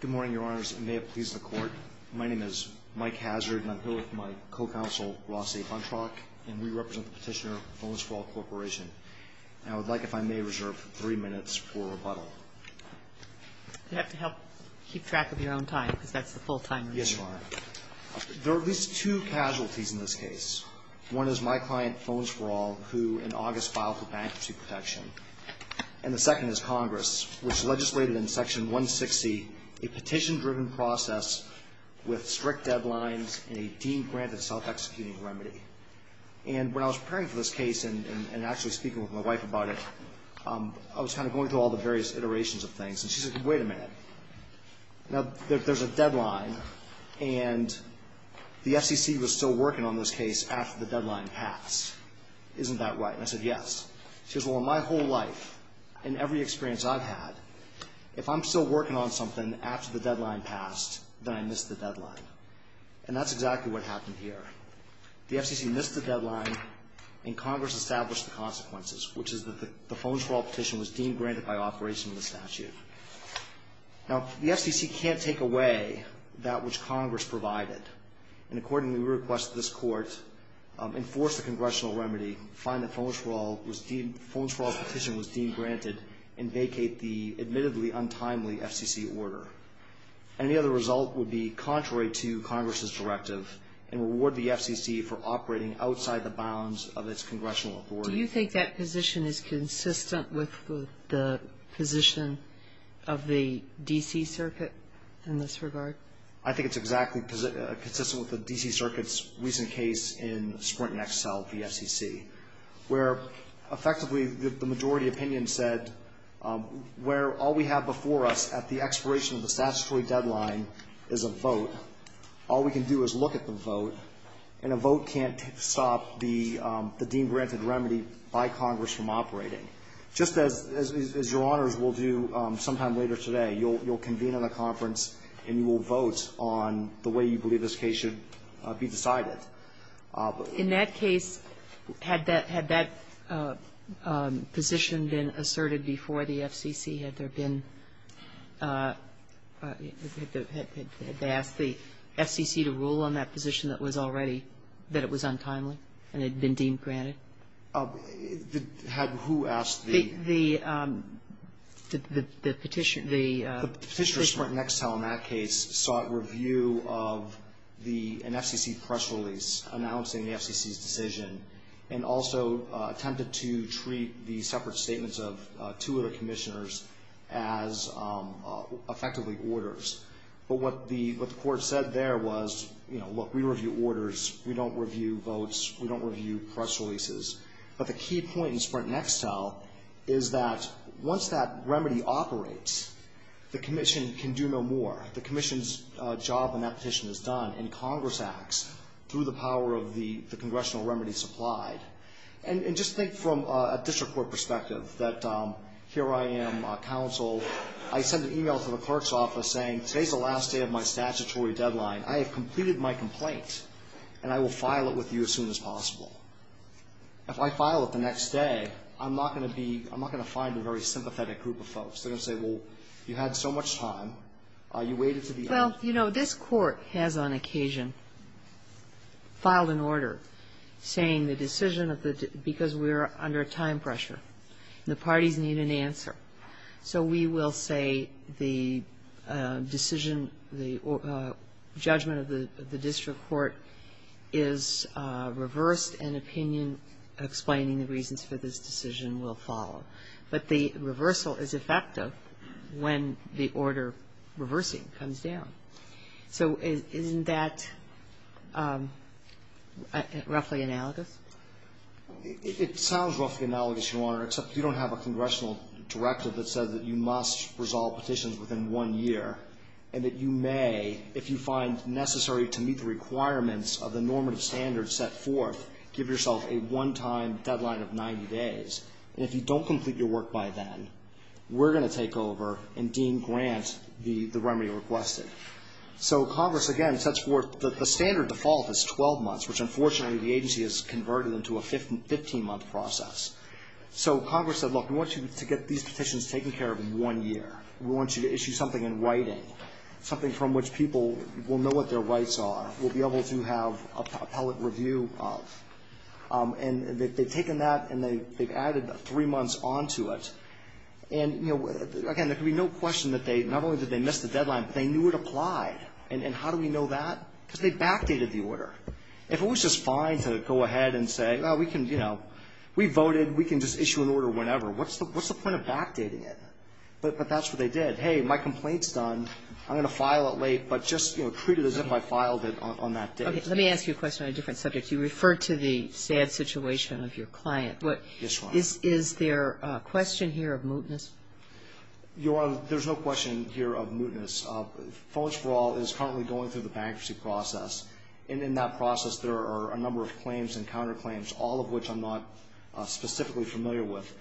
Good morning, Your Honors. It may have pleased the Court. My name is Mike Hazard, and I'm here with my co-counsel, Rossi Buntrock, and we represent the petitioner, Fones4All Corporation. And I would like, if I may, reserve three minutes for rebuttal. You'd have to help keep track of your own time, because that's the full time. Yes, Your Honor. There are at least two casualties in this case. One is my client, Fones4All, who in August filed for bankruptcy protection. And the second is Congress, which legislated in Section 160 a petition-driven process with strict deadlines and a deemed-granted self-executing remedy. And when I was preparing for this case and actually speaking with my wife about it, I was kind of going through all the various iterations of things. And she said, wait a minute. Now, there's a deadline, and the FCC was still working on this case after the deadline passed. Isn't that right? And I said, yes. She goes, well, in my whole life, in every experience I've had, if I'm still working on something after the deadline passed, then I missed the deadline. And that's exactly what happened here. The FCC missed the deadline, and Congress established the consequences, which is that the Fones4All petition was deemed-granted by operation of the statute. Now, the FCC can't take away that which Congress provided. And accordingly, we request that this Court enforce the congressional remedy, find that Fones4All was deemed – Fones4All's petition was deemed-granted, and vacate the admittedly untimely FCC order. Any other result would be contrary to Congress's directive and reward the FCC for operating outside the bounds of its congressional authority. Do you think that position is consistent with the position of the D.C. Circuit in this regard? I think it's exactly consistent with the D.C. Circuit's recent case in Sprint and Excel v. FCC, where effectively the majority opinion said where all we have before us at the expiration of the statutory deadline is a vote, all we can do is look at the vote, and a vote can't stop the deemed-granted remedy by Congress from operating. Just as your Honors will do sometime later today, you'll convene at a conference and you will vote on the way you believe this case should be decided. In that case, had that position been asserted before the FCC? Had there been – had they asked the FCC to rule on that position that was already – that it was untimely and had been deemed-granted? Had who asked the – The petitioner. The petitioner at Sprint and Excel in that case sought review of the – an FCC press release announcing the FCC's decision and also attempted to treat the separate statements of two other Commissioners as effectively orders. But what the – what the Court said there was, you know, look, we review orders. We don't review votes. We don't review press releases. But the key point in Sprint and Excel is that once that remedy operates, the Commission can do no more. The Commission's job in that petition is done, and Congress acts through the power of the – the congressional remedy supplied. And just think from a district court perspective that here I am, counsel, I send an email to the clerk's office saying, today's the last day of my statutory deadline. I have completed my complaint, and I will file it with you as soon as possible. If I file it the next day, I'm not going to be – I'm not going to find a very sympathetic group of folks. They're going to say, well, you had so much time. You waited until the end. Well, you know, this Court has on occasion filed an order saying the decision of the – because we are under a time pressure and the parties need an answer. So we will say the decision, the judgment of the district court is reversed, and opinion explaining the reasons for this decision will follow. But the reversal is effective when the order reversing comes down. So isn't that roughly analogous? It sounds roughly analogous, Your Honor, except you don't have a congressional directive that says that you must resolve petitions within one year, and that you may, if you find necessary to meet the requirements of the normative standard set forth, give yourself a one-time deadline of 90 days. And if you don't complete your work by then, we're going to take over and dean grant the remedy requested. So Congress, again, sets forth – the standard default is 12 months, which unfortunately the agency has converted into a 15-month process. So Congress said, look, we want you to get these petitions taken care of in one year. We want you to issue something in writing, something from which people will know what their rights are, will be able to have appellate review of. And they've taken that and they've added three months onto it. And, you know, again, there can be no question that they – not only did they miss the deadline, but they knew it applied. And how do we know that? Because they backdated the order. If it was just fine to go ahead and say, well, we can, you know, we voted. We can just issue an order whenever. What's the point of backdating it? But that's what they did. Hey, my complaint's done. I'm going to file it late, but just, you know, treat it as if I filed it on that date. Okay. Let me ask you a question on a different subject. You referred to the sad situation of your client. Yes, Your Honor. Is there a question here of mootness? Your Honor, there's no question here of mootness. Phones for All is currently going through the bankruptcy process. And in that process, there are a number of claims and counterclaims, all of which I'm not specifically familiar with.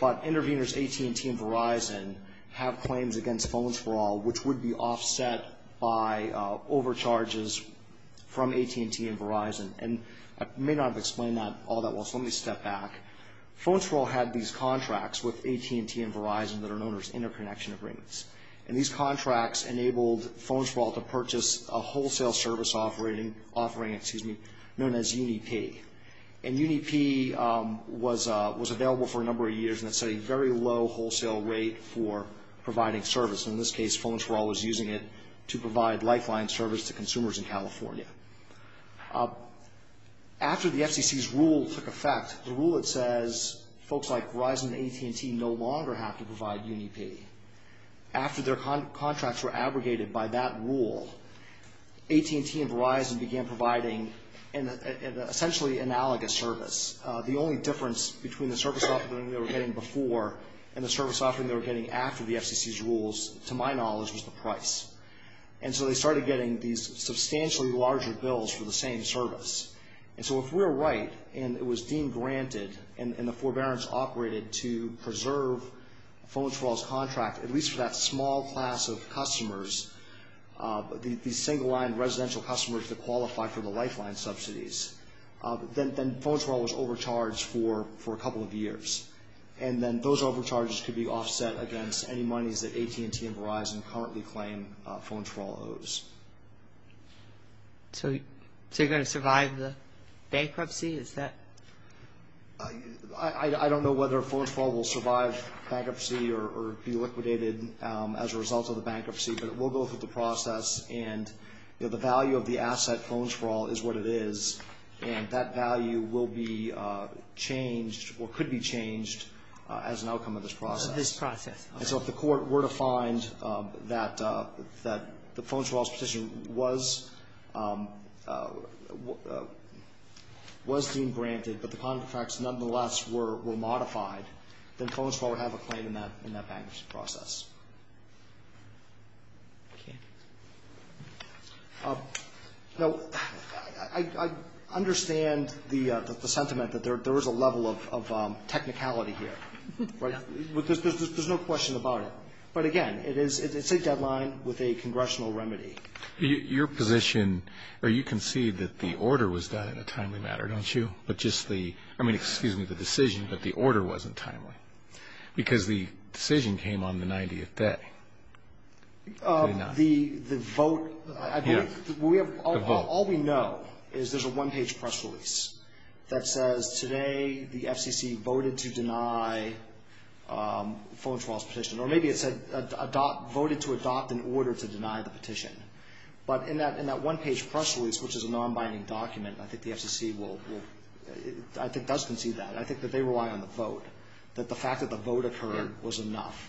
But interveners AT&T and Verizon have claims against Phones for All, which would be offset by overcharges from AT&T and Verizon. And I may not have explained that all that well, so let me step back. Phones for All had these contracts with AT&T and Verizon that are known as interconnection agreements. And these contracts enabled Phones for All to purchase a wholesale service offering known as UniPay. And UniPay was available for a number of years, and it's a very low wholesale rate for providing service. In this case, Phones for All was using it to provide lifeline service to consumers in California. After the FCC's rule took effect, the rule that says folks like Verizon and AT&T no longer have to provide UniPay, after their contracts were abrogated by that rule, AT&T and Verizon began providing an essentially analogous service. The only difference between the service offering they were getting before and the service offering they were getting after the FCC's rules, to my knowledge, was the price. And so they started getting these substantially larger bills for the same service. And so if we're right and it was deemed granted and the forbearance operated to preserve Phones for All's contract, at least for that small class of customers, these single line residential customers that qualify for the lifeline subsidies, then Phones for All was overcharged for a couple of years. And then those overcharges could be offset against any monies that AT&T and Verizon currently claim Phones for All owes. So you're going to survive the bankruptcy? I don't know whether Phones for All will survive bankruptcy or be liquidated as a result of the bankruptcy, but it will go through the process, and the value of the asset, Phones for All, is what it is. And that value will be changed or could be changed as an outcome of this process. As an outcome of this process. And so if the court were to find that the Phones for All's position was deemed granted, but the contracts nonetheless were modified, then Phones for All would have a claim in that bankruptcy process. Okay. Now, I understand the sentiment that there is a level of technicality here. There's no question about it. But again, it's a deadline with a congressional remedy. Your position, or you concede that the order was done in a timely manner, don't you? But just the, I mean, excuse me, the decision, but the order wasn't timely. Because the decision came on the 90th day. The vote, I believe. All we know is there's a one-page press release that says today the FCC voted to deny Phones for All's petition. Or maybe it said voted to adopt an order to deny the petition. But in that one-page press release, which is a non-binding document, I think the FCC will, I think does concede that. I think that they rely on the vote, that the fact that the vote occurred was enough.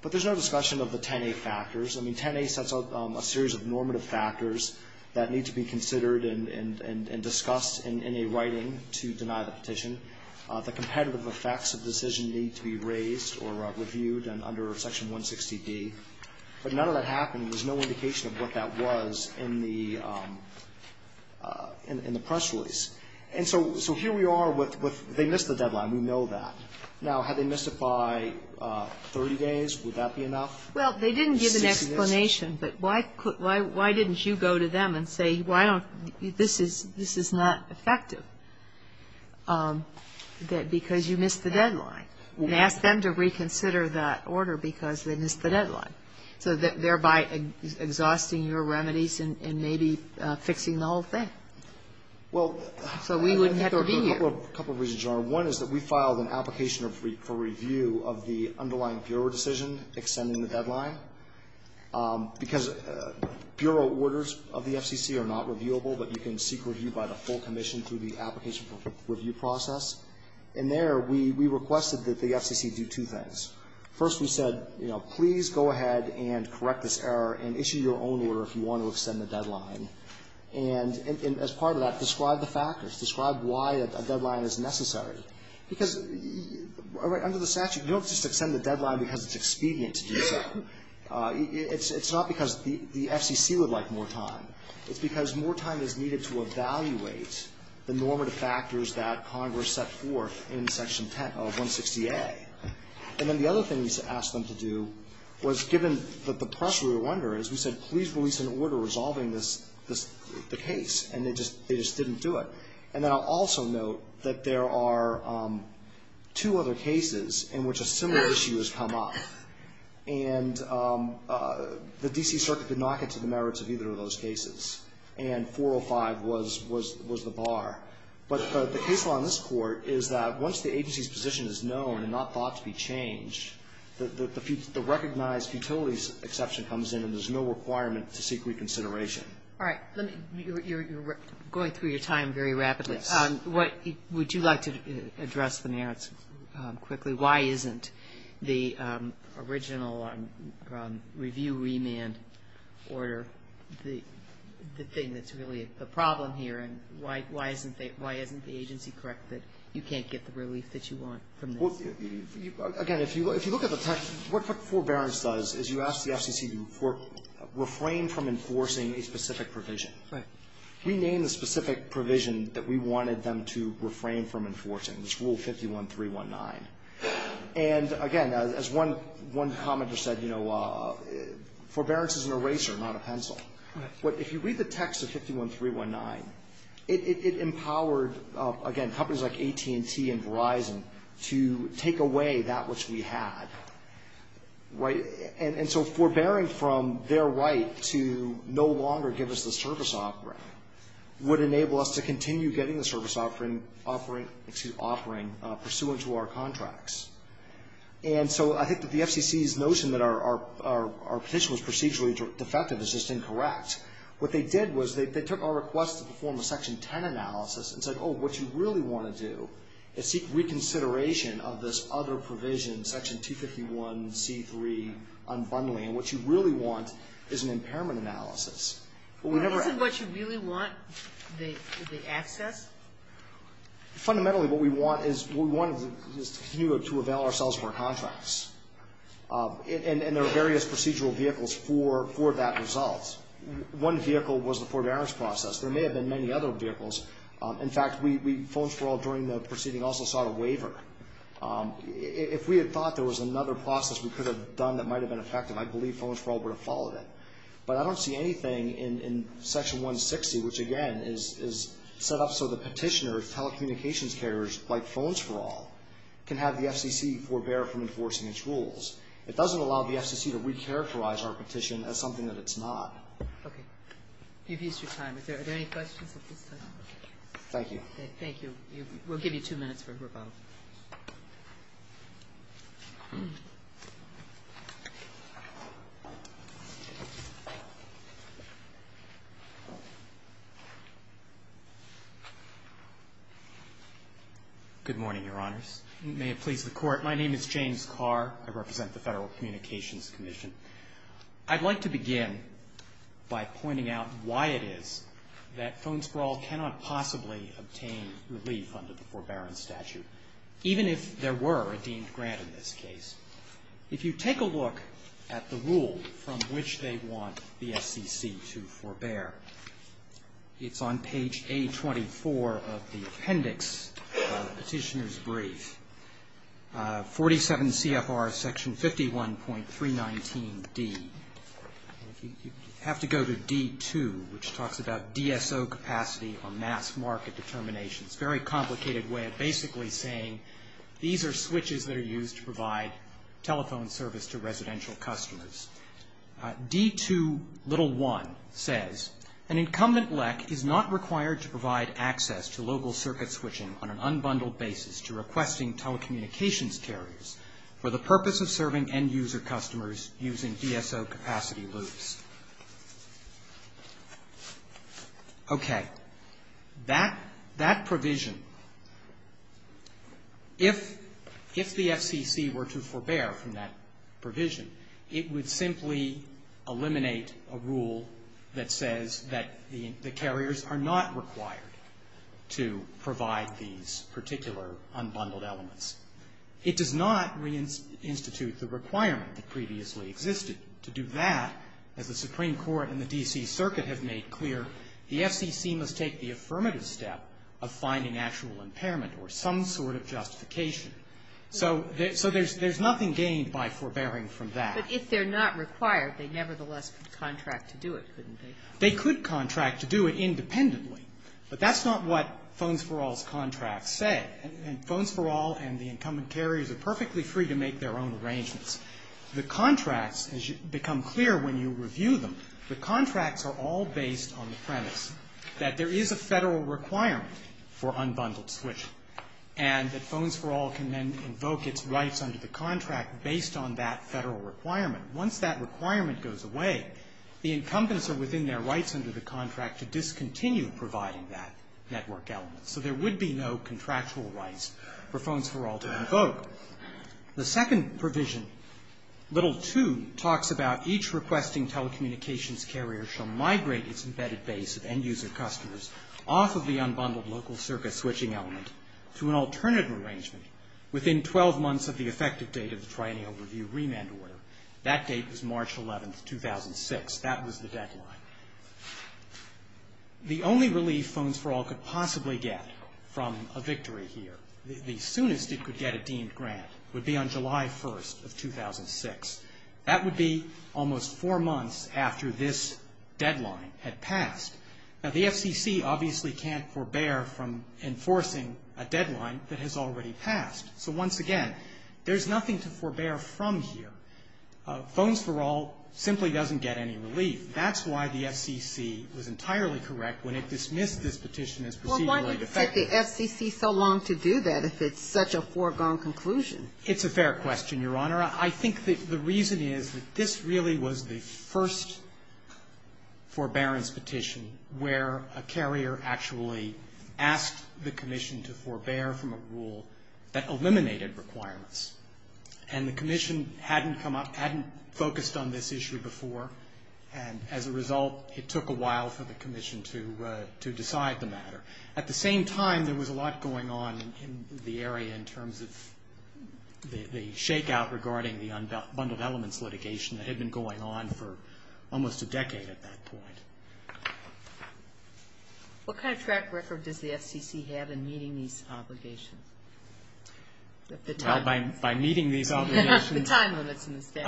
But there's no discussion of the 10A factors. I mean, 10A sets out a series of normative factors that need to be considered and discussed in a writing to deny the petition. The competitive effects of the decision need to be raised or reviewed under Section 160B. But none of that happened, and there's no indication of what that was in the press release. And so here we are with they missed the deadline. We know that. Now, had they missed it by 30 days, would that be enough? Well, they didn't give an explanation, but why didn't you go to them and say, why don't you, this is not effective, because you missed the deadline, and ask them to reconsider that order because they missed the deadline, so thereby exhausting your remedies and maybe fixing the whole thing. So we would have to review. Well, a couple of reasons, Your Honor. One is that we filed an application for review of the underlying bureau decision extending the deadline, because bureau orders of the FCC are not reviewable, but you can seek review by the full commission through the application review process. And there we requested that the FCC do two things. First, we said, you know, please go ahead and correct this error and issue your own order if you want to extend the deadline. And as part of that, describe the factors. Describe why a deadline is necessary. Because under the statute, you don't just extend the deadline because it's expedient to do so. It's not because the FCC would like more time. It's because more time is needed to evaluate the normative factors that Congress set forth in Section 10 of 160A. And then the other thing we asked them to do was, given that the pressure we were under is we said, please release an order resolving the case. And they just didn't do it. And then I'll also note that there are two other cases in which a similar issue has come up. And the D.C. Circuit did not get to the merits of either of those cases. And 405 was the bar. But the case law in this court is that once the agency's position is known and not to be changed, the recognized futilities exception comes in and there's no requirement to seek reconsideration. All right. You're going through your time very rapidly. Yes. Would you like to address the merits quickly? Why isn't the original review remand order the thing that's really the problem here? And why isn't the agency correct that you can't get the relief that you want from this? Well, again, if you look at the text, what forbearance does is you ask the FCC to refrain from enforcing a specific provision. Right. We named the specific provision that we wanted them to refrain from enforcing. It's Rule 51.319. And, again, as one commenter said, you know, forbearance is an eraser, not a pencil. But if you read the text of 51.319, it empowered, again, companies like AT&T and Verizon to take away that which we had. Right. And so forbearing from their right to no longer give us the service offering would enable us to continue getting the service offering pursuant to our contracts. And so I think that the FCC's notion that our petition was procedurally defective is just incorrect. What they did was they took our request to perform a Section 10 analysis and said, Oh, what you really want to do is seek reconsideration of this other provision, Section 251C3, unbundling, and what you really want is an impairment analysis. Isn't what you really want the access? Fundamentally, what we want is to avail ourselves of our contracts. And there are various procedural vehicles for that result. One vehicle was the forbearance process. There may have been many other vehicles. In fact, Phones for All during the proceeding also sought a waiver. If we had thought there was another process we could have done that might have been effective, I believe Phones for All would have followed it. But I don't see anything in Section 160, which, again, is set up so the petitioner, telecommunications carriers, like Phones for All, can have the FCC forbear from enforcing its rules. It doesn't allow the FCC to recharacterize our petition as something that it's not. Okay. You've used your time. Are there any questions at this time? Thank you. Thank you. We'll give you two minutes for rebuttal. Good morning, Your Honors. May it please the Court. My name is James Carr. I represent the Federal Communications Commission. I'd like to begin by pointing out why it is that Phones for All cannot possibly obtain relief under the forbearance statute, even if there were a deemed grant in this case. If you take a look at the rule from which they want the FCC to forbear, it's on page A24 of the appendix of the petitioner's brief, 47 CFR section 51.319D. You have to go to D2, which talks about DSO capacity or mass market determination. It's a very complicated way of basically saying these are switches that are used to provide telephone service to residential An incumbent LEC is not required to provide access to local circuit switching on an unbundled basis to requesting telecommunications carriers for the purpose of serving end-user customers using DSO capacity loops. Okay. That provision, if the FCC were to forbear from that provision, it would simply eliminate a rule that says that the carriers are not required to provide these particular unbundled elements. It does not reinstitute the requirement that previously existed. To do that, as the Supreme Court and the D.C. Circuit have made clear, the FCC must take the affirmative step of finding actual impairment or some sort of justification. So there's nothing gained by forbearing from that. But if they're not required, they nevertheless could contract to do it, couldn't they? They could contract to do it independently, but that's not what Phones for All's contracts say. And Phones for All and the incumbent carriers are perfectly free to make their own arrangements. The contracts, as you become clear when you review them, the contracts are all based on the premise that there is a Federal requirement for unbundled switching and that Phones for All can then invoke its rights under the contract based on that Federal requirement. Once that requirement goes away, the incumbents are within their rights under the contract to discontinue providing that network element. So there would be no contractual rights for Phones for All to invoke. The second provision, little 2, talks about each requesting telecommunications carrier shall migrate its embedded base of end-user customers off of the unbundled local circuit switching element to an alternative arrangement within 12 months of the effective date of the Triennial Review remand order. That date was March 11, 2006. That was the deadline. The only relief Phones for All could possibly get from a victory here, the soonest it could get a deemed grant, would be on July 1st of 2006. That would be almost four months after this deadline had passed. Now, the FCC obviously can't forbear from enforcing a deadline that has already passed. So once again, there's nothing to forbear from here. Phones for All simply doesn't get any relief. That's why the FCC was entirely correct when it dismissed this petition as procedurally defective. Well, why did it take the FCC so long to do that if it's such a foregone conclusion? It's a fair question, Your Honor. I think the reason is that this really was the first forbearance petition where a carrier actually asked the commission to forbear from a rule that eliminated requirements. And the commission hadn't come up, hadn't focused on this issue before. And as a result, it took a while for the commission to decide the matter. At the same time, there was a lot going on in the area in terms of the shakeout regarding the unbundled elements litigation that had been going on for almost a decade at that point. What kind of track record does the FCC have in meeting these obligations? Well, by meeting these obligations... The time limits in this case.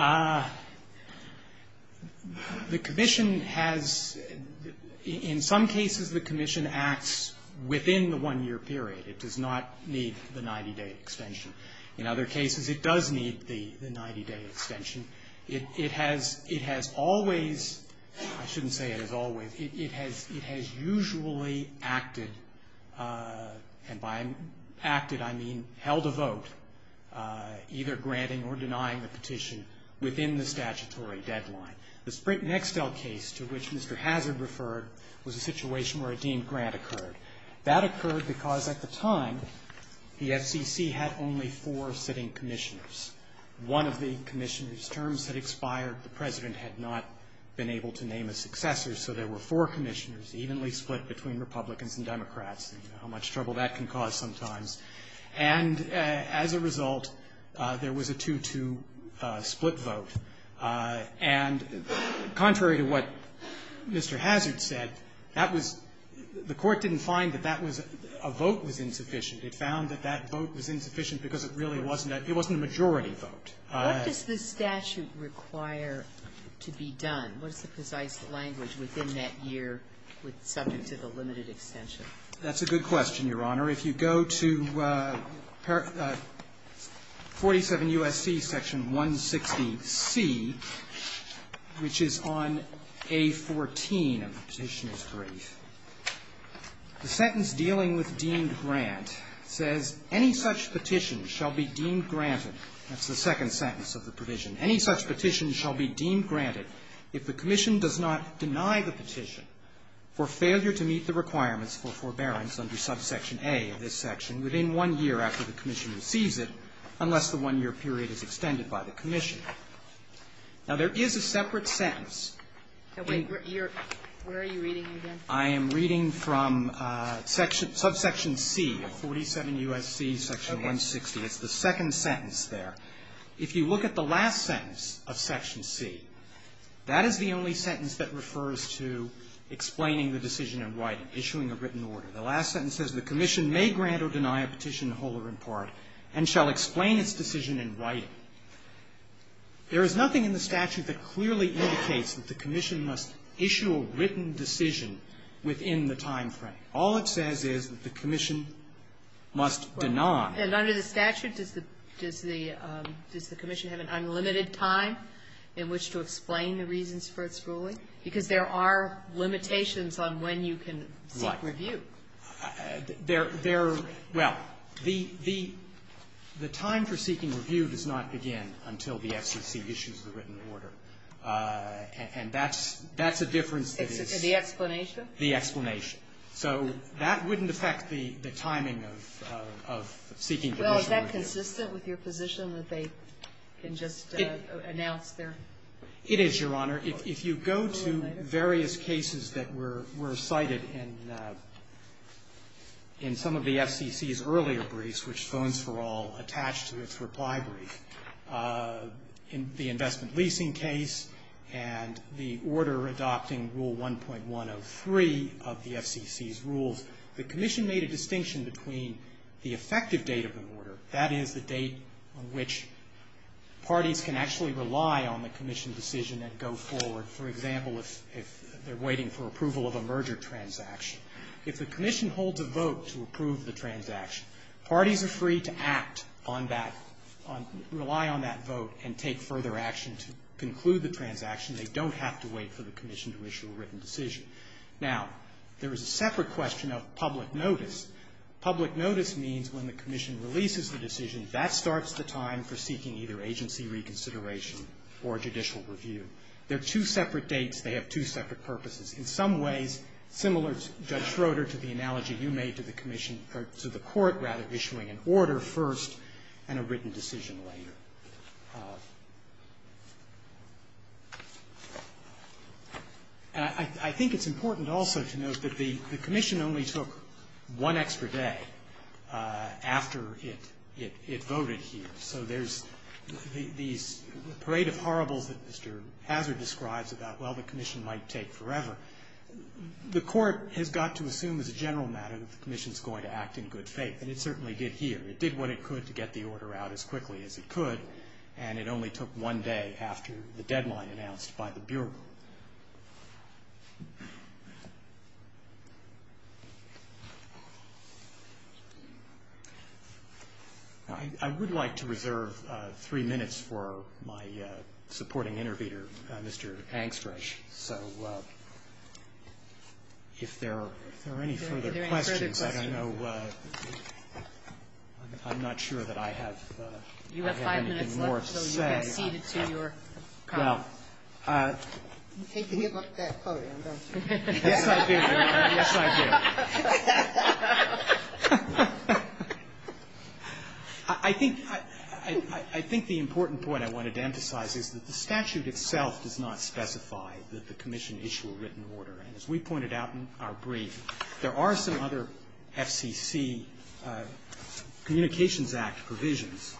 The commission has, in some cases, the commission acts within the one-year period. It does not need the 90-day extension. In other cases, it does need the 90-day extension. It has always, I shouldn't say it has always, it has usually acted, and by acted, I mean held a vote, either granting or denying the petition within the statutory deadline. The Sprint-Nextel case, to which Mr. Hazard referred, was a situation where a deemed grant occurred. That occurred because at the time, the FCC had only four sitting commissioners. One of the commissioners' terms had expired. The President had not been able to name a successor, so there were four commissioners Republicans and Democrats, and how much trouble that can cause sometimes. And as a result, there was a 2-2 split vote. And contrary to what Mr. Hazard said, that was the Court didn't find that that was a vote was insufficient. It found that that vote was insufficient because it really wasn't a majority vote. What does the statute require to be done? What is the precise language within that year subject to the limited extension? That's a good question, Your Honor. If you go to 47 U.S.C. section 160C, which is on A14 of the Petitioner's Brief, the sentence dealing with deemed grant says, Any such petition shall be deemed granted. That's the second sentence of the provision. Any such petition shall be deemed granted if the commission does not deny the petition for failure to meet the requirements for forbearance under subsection A of this section within one year after the commission receives it, unless the one-year period is extended by the commission. Now, there is a separate sentence. Kagan. Where are you reading again? I am reading from subsection C of 47 U.S.C. section 160. Okay. It's the second sentence there. If you look at the last sentence of section C, that is the only sentence that refers to explaining the decision in writing, issuing a written order. The last sentence says, The commission may grant or deny a petition, whole or in part, and shall explain its decision in writing. There is nothing in the statute that clearly indicates that the commission must issue a written decision within the time frame. All it says is that the commission must deny. And under the statute, does the commission have an unlimited time in which to explain the reasons for its ruling? Because there are limitations on when you can seek review. Right. Well, the time for seeking review does not begin until the FCC issues the written order. And that's a difference that is the explanation. So that wouldn't affect the timing of seeking the written review. Well, is that consistent with your position that they can just announce their It is, Your Honor. If you go to various cases that were cited in some of the FCC's earlier briefs, which Phones for All attached to its reply brief, in the investment leasing case and the order adopting Rule 1.103 of the FCC's rules, the commission made a distinction between the effective date of the order, that is, the date on which parties can actually rely on the commission decision and go forward. For example, if they're waiting for approval of a merger transaction. If the commission holds a vote to approve the transaction, parties are free to act on that, rely on that vote and take further action to conclude the transaction. They don't have to wait for the commission to issue a written decision. Now, there is a separate question of public notice. Public notice means when the commission releases the decision, that starts the time for seeking either agency reconsideration or judicial review. They're two separate dates. They have two separate purposes. In some ways, similar to Judge Schroeder, to the analogy you made to the commission or to the court, rather, issuing an order first and a written decision later. And I think it's important also to note that the commission only took one extra day after it voted here. So there's these parade of horribles that Mr. Hazard describes about, well, the commission might take forever. The court has got to assume as a general matter that the commission is going to act in good faith, and it certainly did here. It did what it could to get the order out as quickly as it could, and it only took one day after the deadline announced by the Bureau. I would like to reserve three minutes for my supporting interviewer, Mr. Angstreich. So if there are any further questions, I don't know. I'm not sure that I have anything more to say. Well, I think the important point I wanted to emphasize is that the statute itself does not specify that the commission issue a written order. And as we pointed out in our briefing, there are some other FCC Communications Act provisions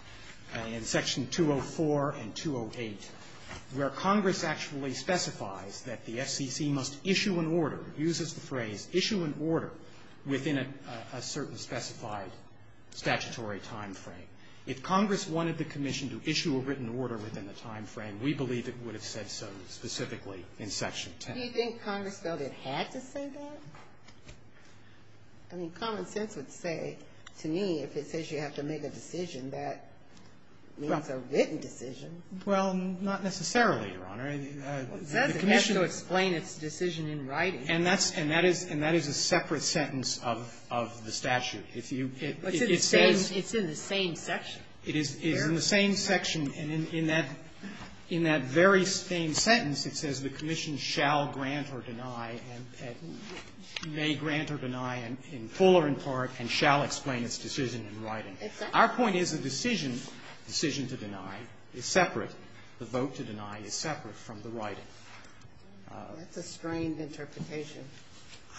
in Section 204 and 208 where Congress actually specifies that the FCC must issue an order, uses the phrase, issue an order within a certain specified statutory timeframe. If Congress wanted the commission to issue a written order within the timeframe, we believe it would have said so specifically in Section 10. Do you think Congress felt it had to say that? I mean, common sense would say to me if it says you have to make a decision, that means a written decision. Well, not necessarily, Your Honor. It doesn't have to explain its decision in writing. And that is a separate sentence of the statute. It's in the same section. It is in the same section. And in that very same sentence, it says the commission shall grant or deny, may grant or deny in full or in part, and shall explain its decision in writing. Our point is the decision to deny is separate. The vote to deny is separate from the writing. That's a strained interpretation.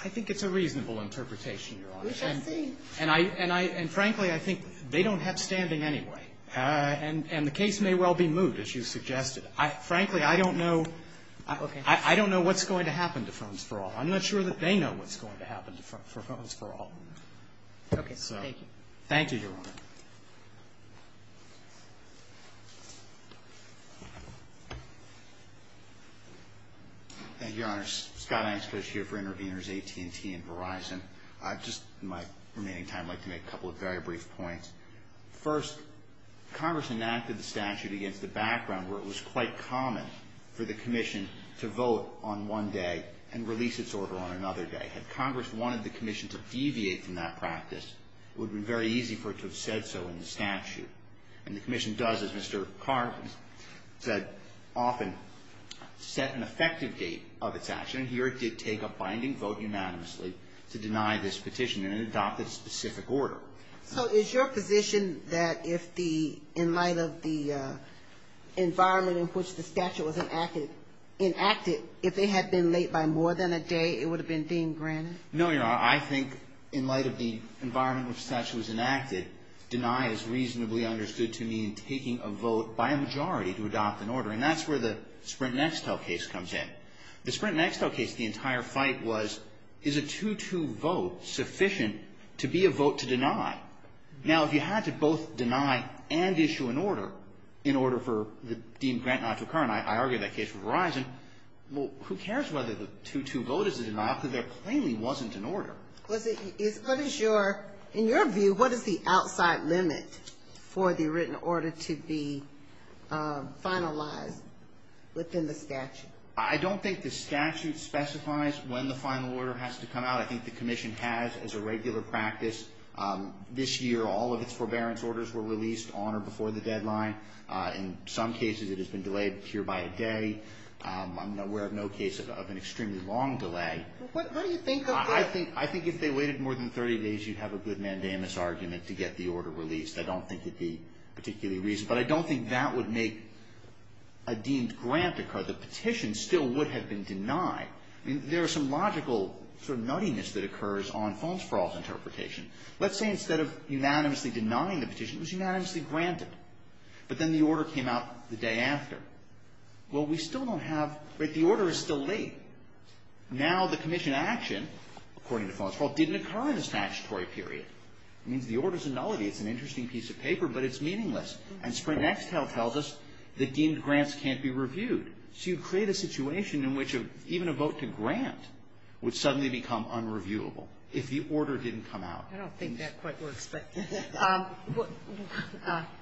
I think it's a reasonable interpretation, Your Honor. We shall see. And frankly, I think they don't have standing anyway. And the case may well be moved, as you suggested. Frankly, I don't know. Okay. I don't know what's going to happen to phones for all. I'm not sure that they know what's going to happen to phones for all. Okay. Thank you. Thank you, Your Honor. Thank you, Your Honor. Scott Ainscott is here for Interveners AT&T and Verizon. I'd just in my remaining time like to make a couple of very brief points. First, Congress enacted the statute against the background where it was quite common for the commission to vote on one day and release its order on another day. Had Congress wanted the commission to deviate from that practice, it would have been very easy for it to have said so in the statute. And the commission does, as Mr. Carvin said often, set an effective date of its action. And here it did take a binding vote unanimously to deny this petition and it adopted a specific order. So is your position that if the, in light of the environment in which the statute was enacted, if they had been late by more than a day, it would have been deemed granted? No, Your Honor. I think in light of the environment in which the statute was enacted, deny is reasonably understood to mean taking a vote by a majority to adopt an order. And that's where the Sprint Nextel case comes in. The Sprint Nextel case, the entire fight was, is a 2-2 vote sufficient to be a vote to deny? Now, if you had to both deny and issue an order in order for the deemed grant not to occur, and I argued that case for Verizon, well, who cares whether the 2-2 vote is a denial because there plainly wasn't an order. Was it, is, what is your, in your view, what is the outside limit for the written order to be finalized within the statute? I don't think the statute specifies when the final order has to come out. I think the commission has as a regular practice. This year, all of its forbearance orders were released on or before the deadline. In some cases, it has been delayed pure by a day. I'm aware of no case of an extremely long delay. How do you think of that? I think if they waited more than 30 days, you'd have a good mandamus argument to get the order released. I don't think it'd be particularly reasonable. But I don't think that would make a deemed grant occur. The petition still would have been denied. I mean, there are some logical sort of nuttiness that occurs on Farnsproul's interpretation. Let's say instead of unanimously denying the petition, it was unanimously granted. But then the order came out the day after. Well, we still don't have, right, the order is still late. Now the commission action, according to Farnsproul, didn't occur in a statutory period. It means the order's a nullity. It's an interesting piece of paper, but it's meaningless. And Sprint Nextel tells us that deemed grants can't be reviewed. So you create a situation in which even a vote to grant would suddenly become unreviewable if the order didn't come out. I don't think that quite works. But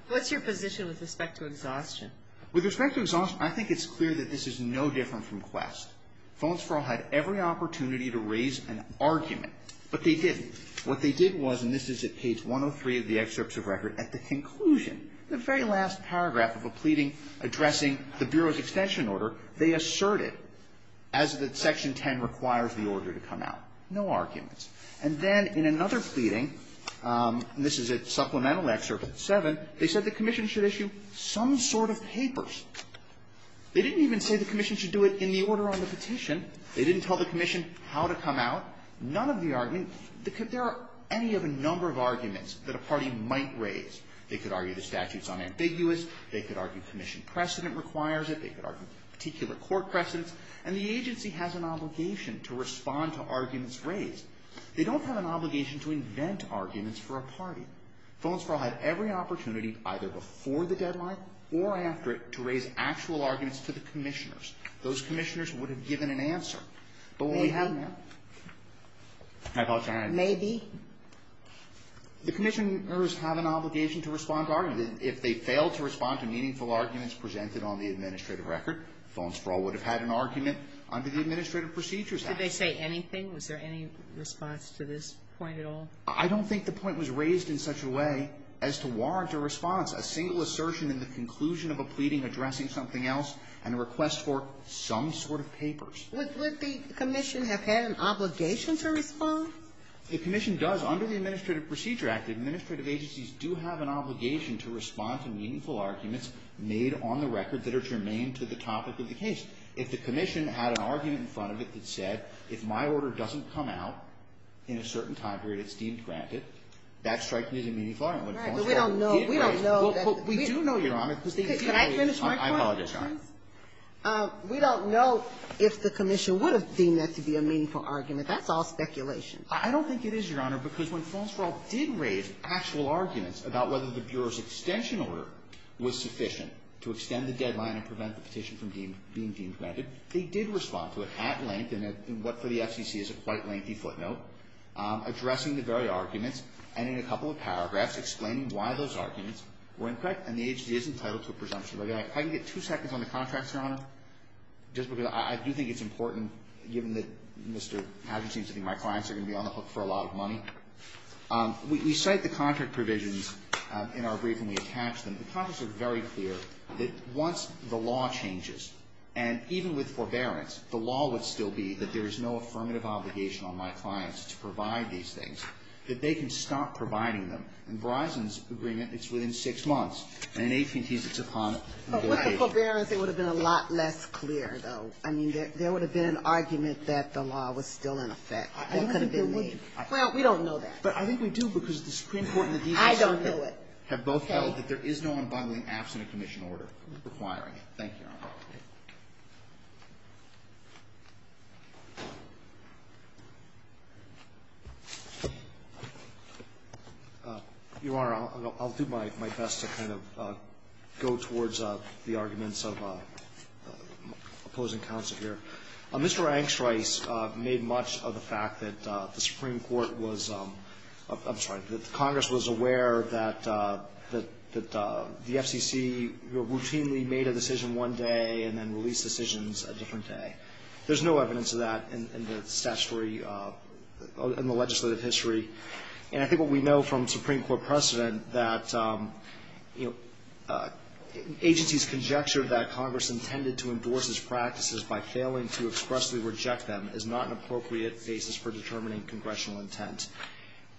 what's your position with respect to exhaustion? With respect to exhaustion, I think it's clear that this is no different from Quest. Farnsproul had every opportunity to raise an argument, but they didn't. What they did was, and this is at page 103 of the excerpts of record, at the conclusion, the very last paragraph of a pleading addressing the Bureau's extension order, they asserted as that Section 10 requires the order to come out. No arguments. And then in another pleading, and this is a supplemental excerpt at 7, they said the commission should issue some sort of papers. They didn't even say the commission should do it in the order on the petition. They didn't tell the commission how to come out. None of the argument, there are any of a number of arguments that a party might raise. They could argue the statute's unambiguous. They could argue commission precedent requires it. They could argue particular court precedents. And the agency has an obligation to respond to arguments raised. They don't have an obligation to invent arguments for a party. Farnsproul had every opportunity either before the deadline or after it to raise actual arguments to the commissioners. Those commissioners would have given an answer. But what we have now. Maybe. I apologize. Maybe. The commissioners have an obligation to respond to arguments. If they fail to respond to meaningful arguments presented on the administrative record, Farnsproul would have had an argument under the Administrative Procedures Act. Did they say anything? Was there any response to this point at all? I don't think the point was raised in such a way as to warrant a response, a single assertion in the conclusion of a pleading addressing something else and a request for some sort of papers. Would the commission have had an obligation to respond? The commission does. Under the Administrative Procedures Act, the administrative agencies do have an obligation to respond to meaningful arguments made on the record that are germane to the topic of the case. If the commission had an argument in front of it that said, if my order doesn't come out in a certain time period, it's deemed granted, that strikes me as a meaningful argument. Right. But we don't know. We don't know. But we do know, Your Honor, because the agency always. Can I finish my point? I apologize. We don't know if the commission would have deemed that to be a meaningful argument. That's all speculation. I don't think it is, Your Honor, because when Falserall did raise actual arguments about whether the Bureau's extension order was sufficient to extend the deadline and prevent the petition from being deemed granted, they did respond to it at length in what, for the FCC, is a quite lengthy footnote, addressing the very arguments and in a couple of paragraphs explaining why those arguments were incorrect. And the agency is entitled to a presumption by the act. If I can get two seconds on the contracts, Your Honor, just because I do think it's important, given that Mr. Hadgen seems to think my clients are going to be on the hook for a lot of money. We cite the contract provisions in our brief and we attach them. The contracts are very clear that once the law changes, and even with forbearance, the law would still be that there is no affirmative obligation on my clients to provide these things, that they can stop providing them. In Verizon's agreement, it's within six months. And in AT&T's, it's upon the Board of Agents. But with the forbearance, it would have been a lot less clear, though. I mean, there would have been an argument that the law was still in effect. I don't think there would have been. Well, we don't know that. But I think we do, because the Supreme Court and the defense have both held that there is no unbinding absent a commission order requiring it. Thank you, Your Honor. Your Honor, I'll do my best to kind of go towards the arguments of opposing counsel here. Mr. Angstreich made much of the fact that the Supreme Court was – I'm sorry, that the Congress was aware that the FCC routinely made a decision one day that and then released decisions a different day. There's no evidence of that in the statutory – in the legislative history. And I think what we know from Supreme Court precedent that, you know, agencies conjecture that Congress intended to endorse its practices by failing to expressly reject them is not an appropriate basis for determining congressional intent.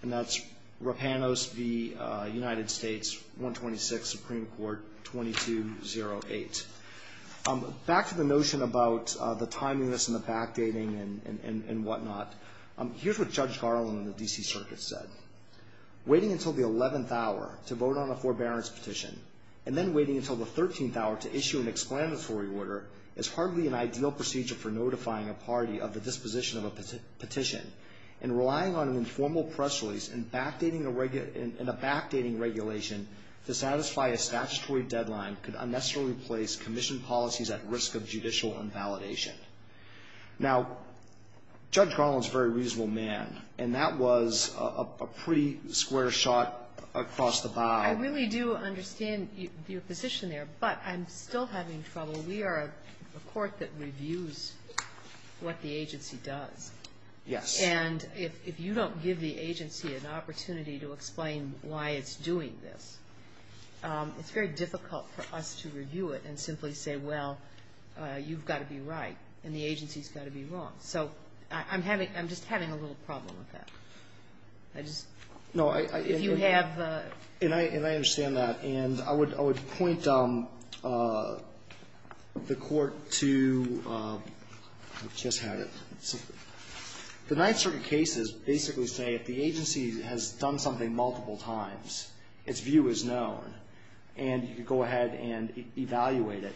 And that's Rapanos v. United States, 126, Supreme Court 2208. Back to the notion about the timeliness and the backdating and whatnot. Here's what Judge Garland in the D.C. Circuit said. Waiting until the 11th hour to vote on a forbearance petition and then waiting until the 13th hour to issue an explanatory order is hardly an ideal procedure for notifying a party of the disposition of a petition. And relying on an informal press release and a backdating regulation to satisfy a commission policy is at risk of judicial invalidation. Now, Judge Garland's a very reasonable man, and that was a pretty square shot across the bow. I really do understand your position there, but I'm still having trouble. We are a court that reviews what the agency does. Yes. And if you don't give the agency an opportunity to explain why it's doing this, it's very difficult for us to review it and simply say, well, you've got to be right and the agency's got to be wrong. So I'm having — I'm just having a little problem with that. I just — No, I — If you have — And I understand that. And I would point the Court to — I just had it. The Ninth Circuit cases basically say if the agency has done something multiple times, its view is known, and you could go ahead and evaluate it.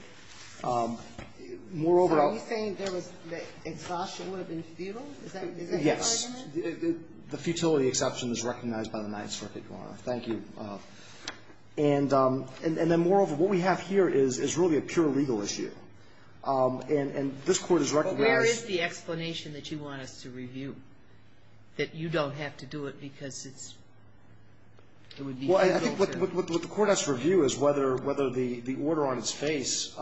Moreover — So are you saying there was — that exhaustion would have been futile? Is that your argument? Yes. The futility exception is recognized by the Ninth Circuit, Your Honor. Thank you. And then, moreover, what we have here is really a pure legal issue. And this Court has recognized — But where is the explanation that you want us to review, that you don't have to do it because it's — Well, I think what the Court has to review is whether the order on its face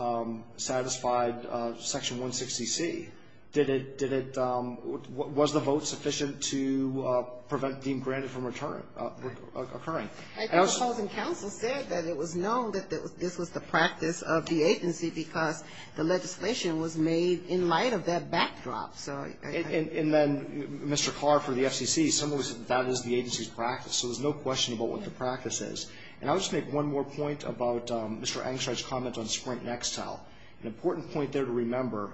satisfied Section 160C. Did it — was the vote sufficient to prevent deemed granted from occurring? I think the opposing counsel said that it was known that this was the practice of the agency because the legislation was made in light of that backdrop. So I — And then, Mr. Carr, for the FCC, someone said that that is the agency's practice, so there's no question about what the practice is. And I would just make one more point about Mr. Angstreich's comment on Sprint and Excel. An important point there to remember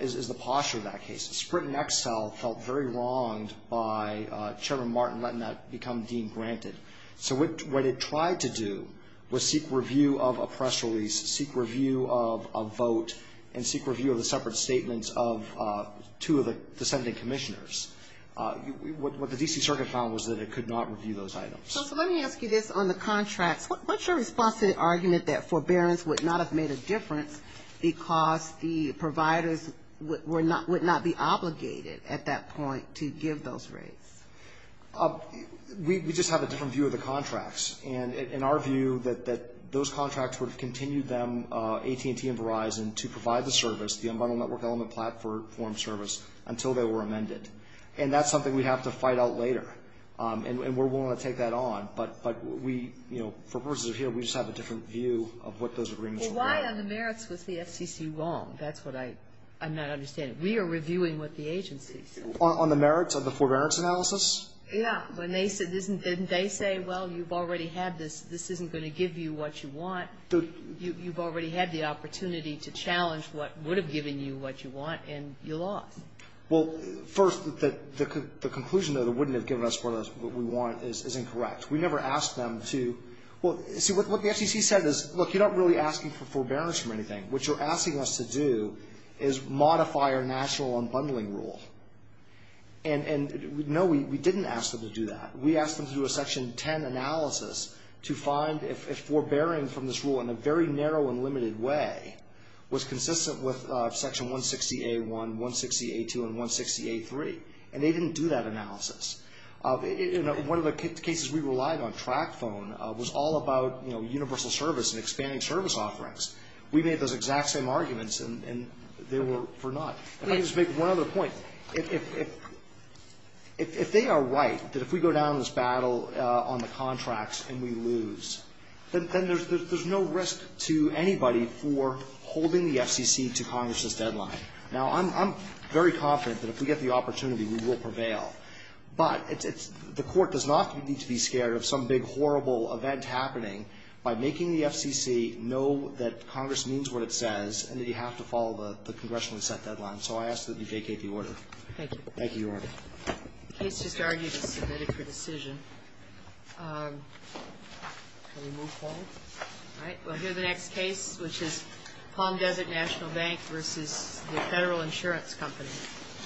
is the posture of that case. Sprint and Excel felt very wronged by Chairman Martin letting that become deemed granted. So what it tried to do was seek review of a press release, seek review of a vote, and seek review of the separate statements of two of the dissenting commissioners. What the D.C. Circuit found was that it could not review those items. So let me ask you this on the contracts. What's your response to the argument that forbearance would not have made a difference because the providers would not be obligated at that point to give those rates? We just have a different view of the contracts. And in our view, that those contracts would have continued them, AT&T and Verizon, to provide the service, the environmental network element platform service, until they were amended. And that's something we have to fight out later. And we're willing to take that on. But we, you know, for purposes of here, we just have a different view of what those agreements are about. Well, why on the merits was the FCC wrong? That's what I'm not understanding. We are reviewing what the agency said. On the merits of the forbearance analysis? Yeah. Didn't they say, well, you've already had this. This isn't going to give you what you want. You've already had the opportunity to challenge what would have given you what you want, and you lost. Well, first, the conclusion that it wouldn't have given us what we want is incorrect. We never asked them to – well, see, what the FCC said is, look, you're not really asking for forbearance from anything. What you're asking us to do is modify our national unbundling rule. And, no, we didn't ask them to do that. We asked them to do a Section 10 analysis to find if forbearing from this rule in a very narrow and limited way was consistent with Section 160A1, 160A2, and 160A3. And they didn't do that analysis. One of the cases we relied on, Track Phone, was all about universal service and expanding service offerings. We made those exact same arguments, and they were for naught. Let me just make one other point. If they are right that if we go down this battle on the contracts and we lose, then there's no risk to anybody for holding the FCC to Congress's deadline. Now, I'm very confident that if we get the opportunity, we will prevail. But the Court does not need to be scared of some big, horrible event happening by making the FCC know that Congress means what it says and that you have to follow the congressionally set deadline. So I ask that you vacate the order. Thank you. Thank you, Your Honor. The case just argued is submitted for decision. Can we move forward? All right. We'll hear the next case, which is Palm Desert National Bank versus the Federal Insurance Company.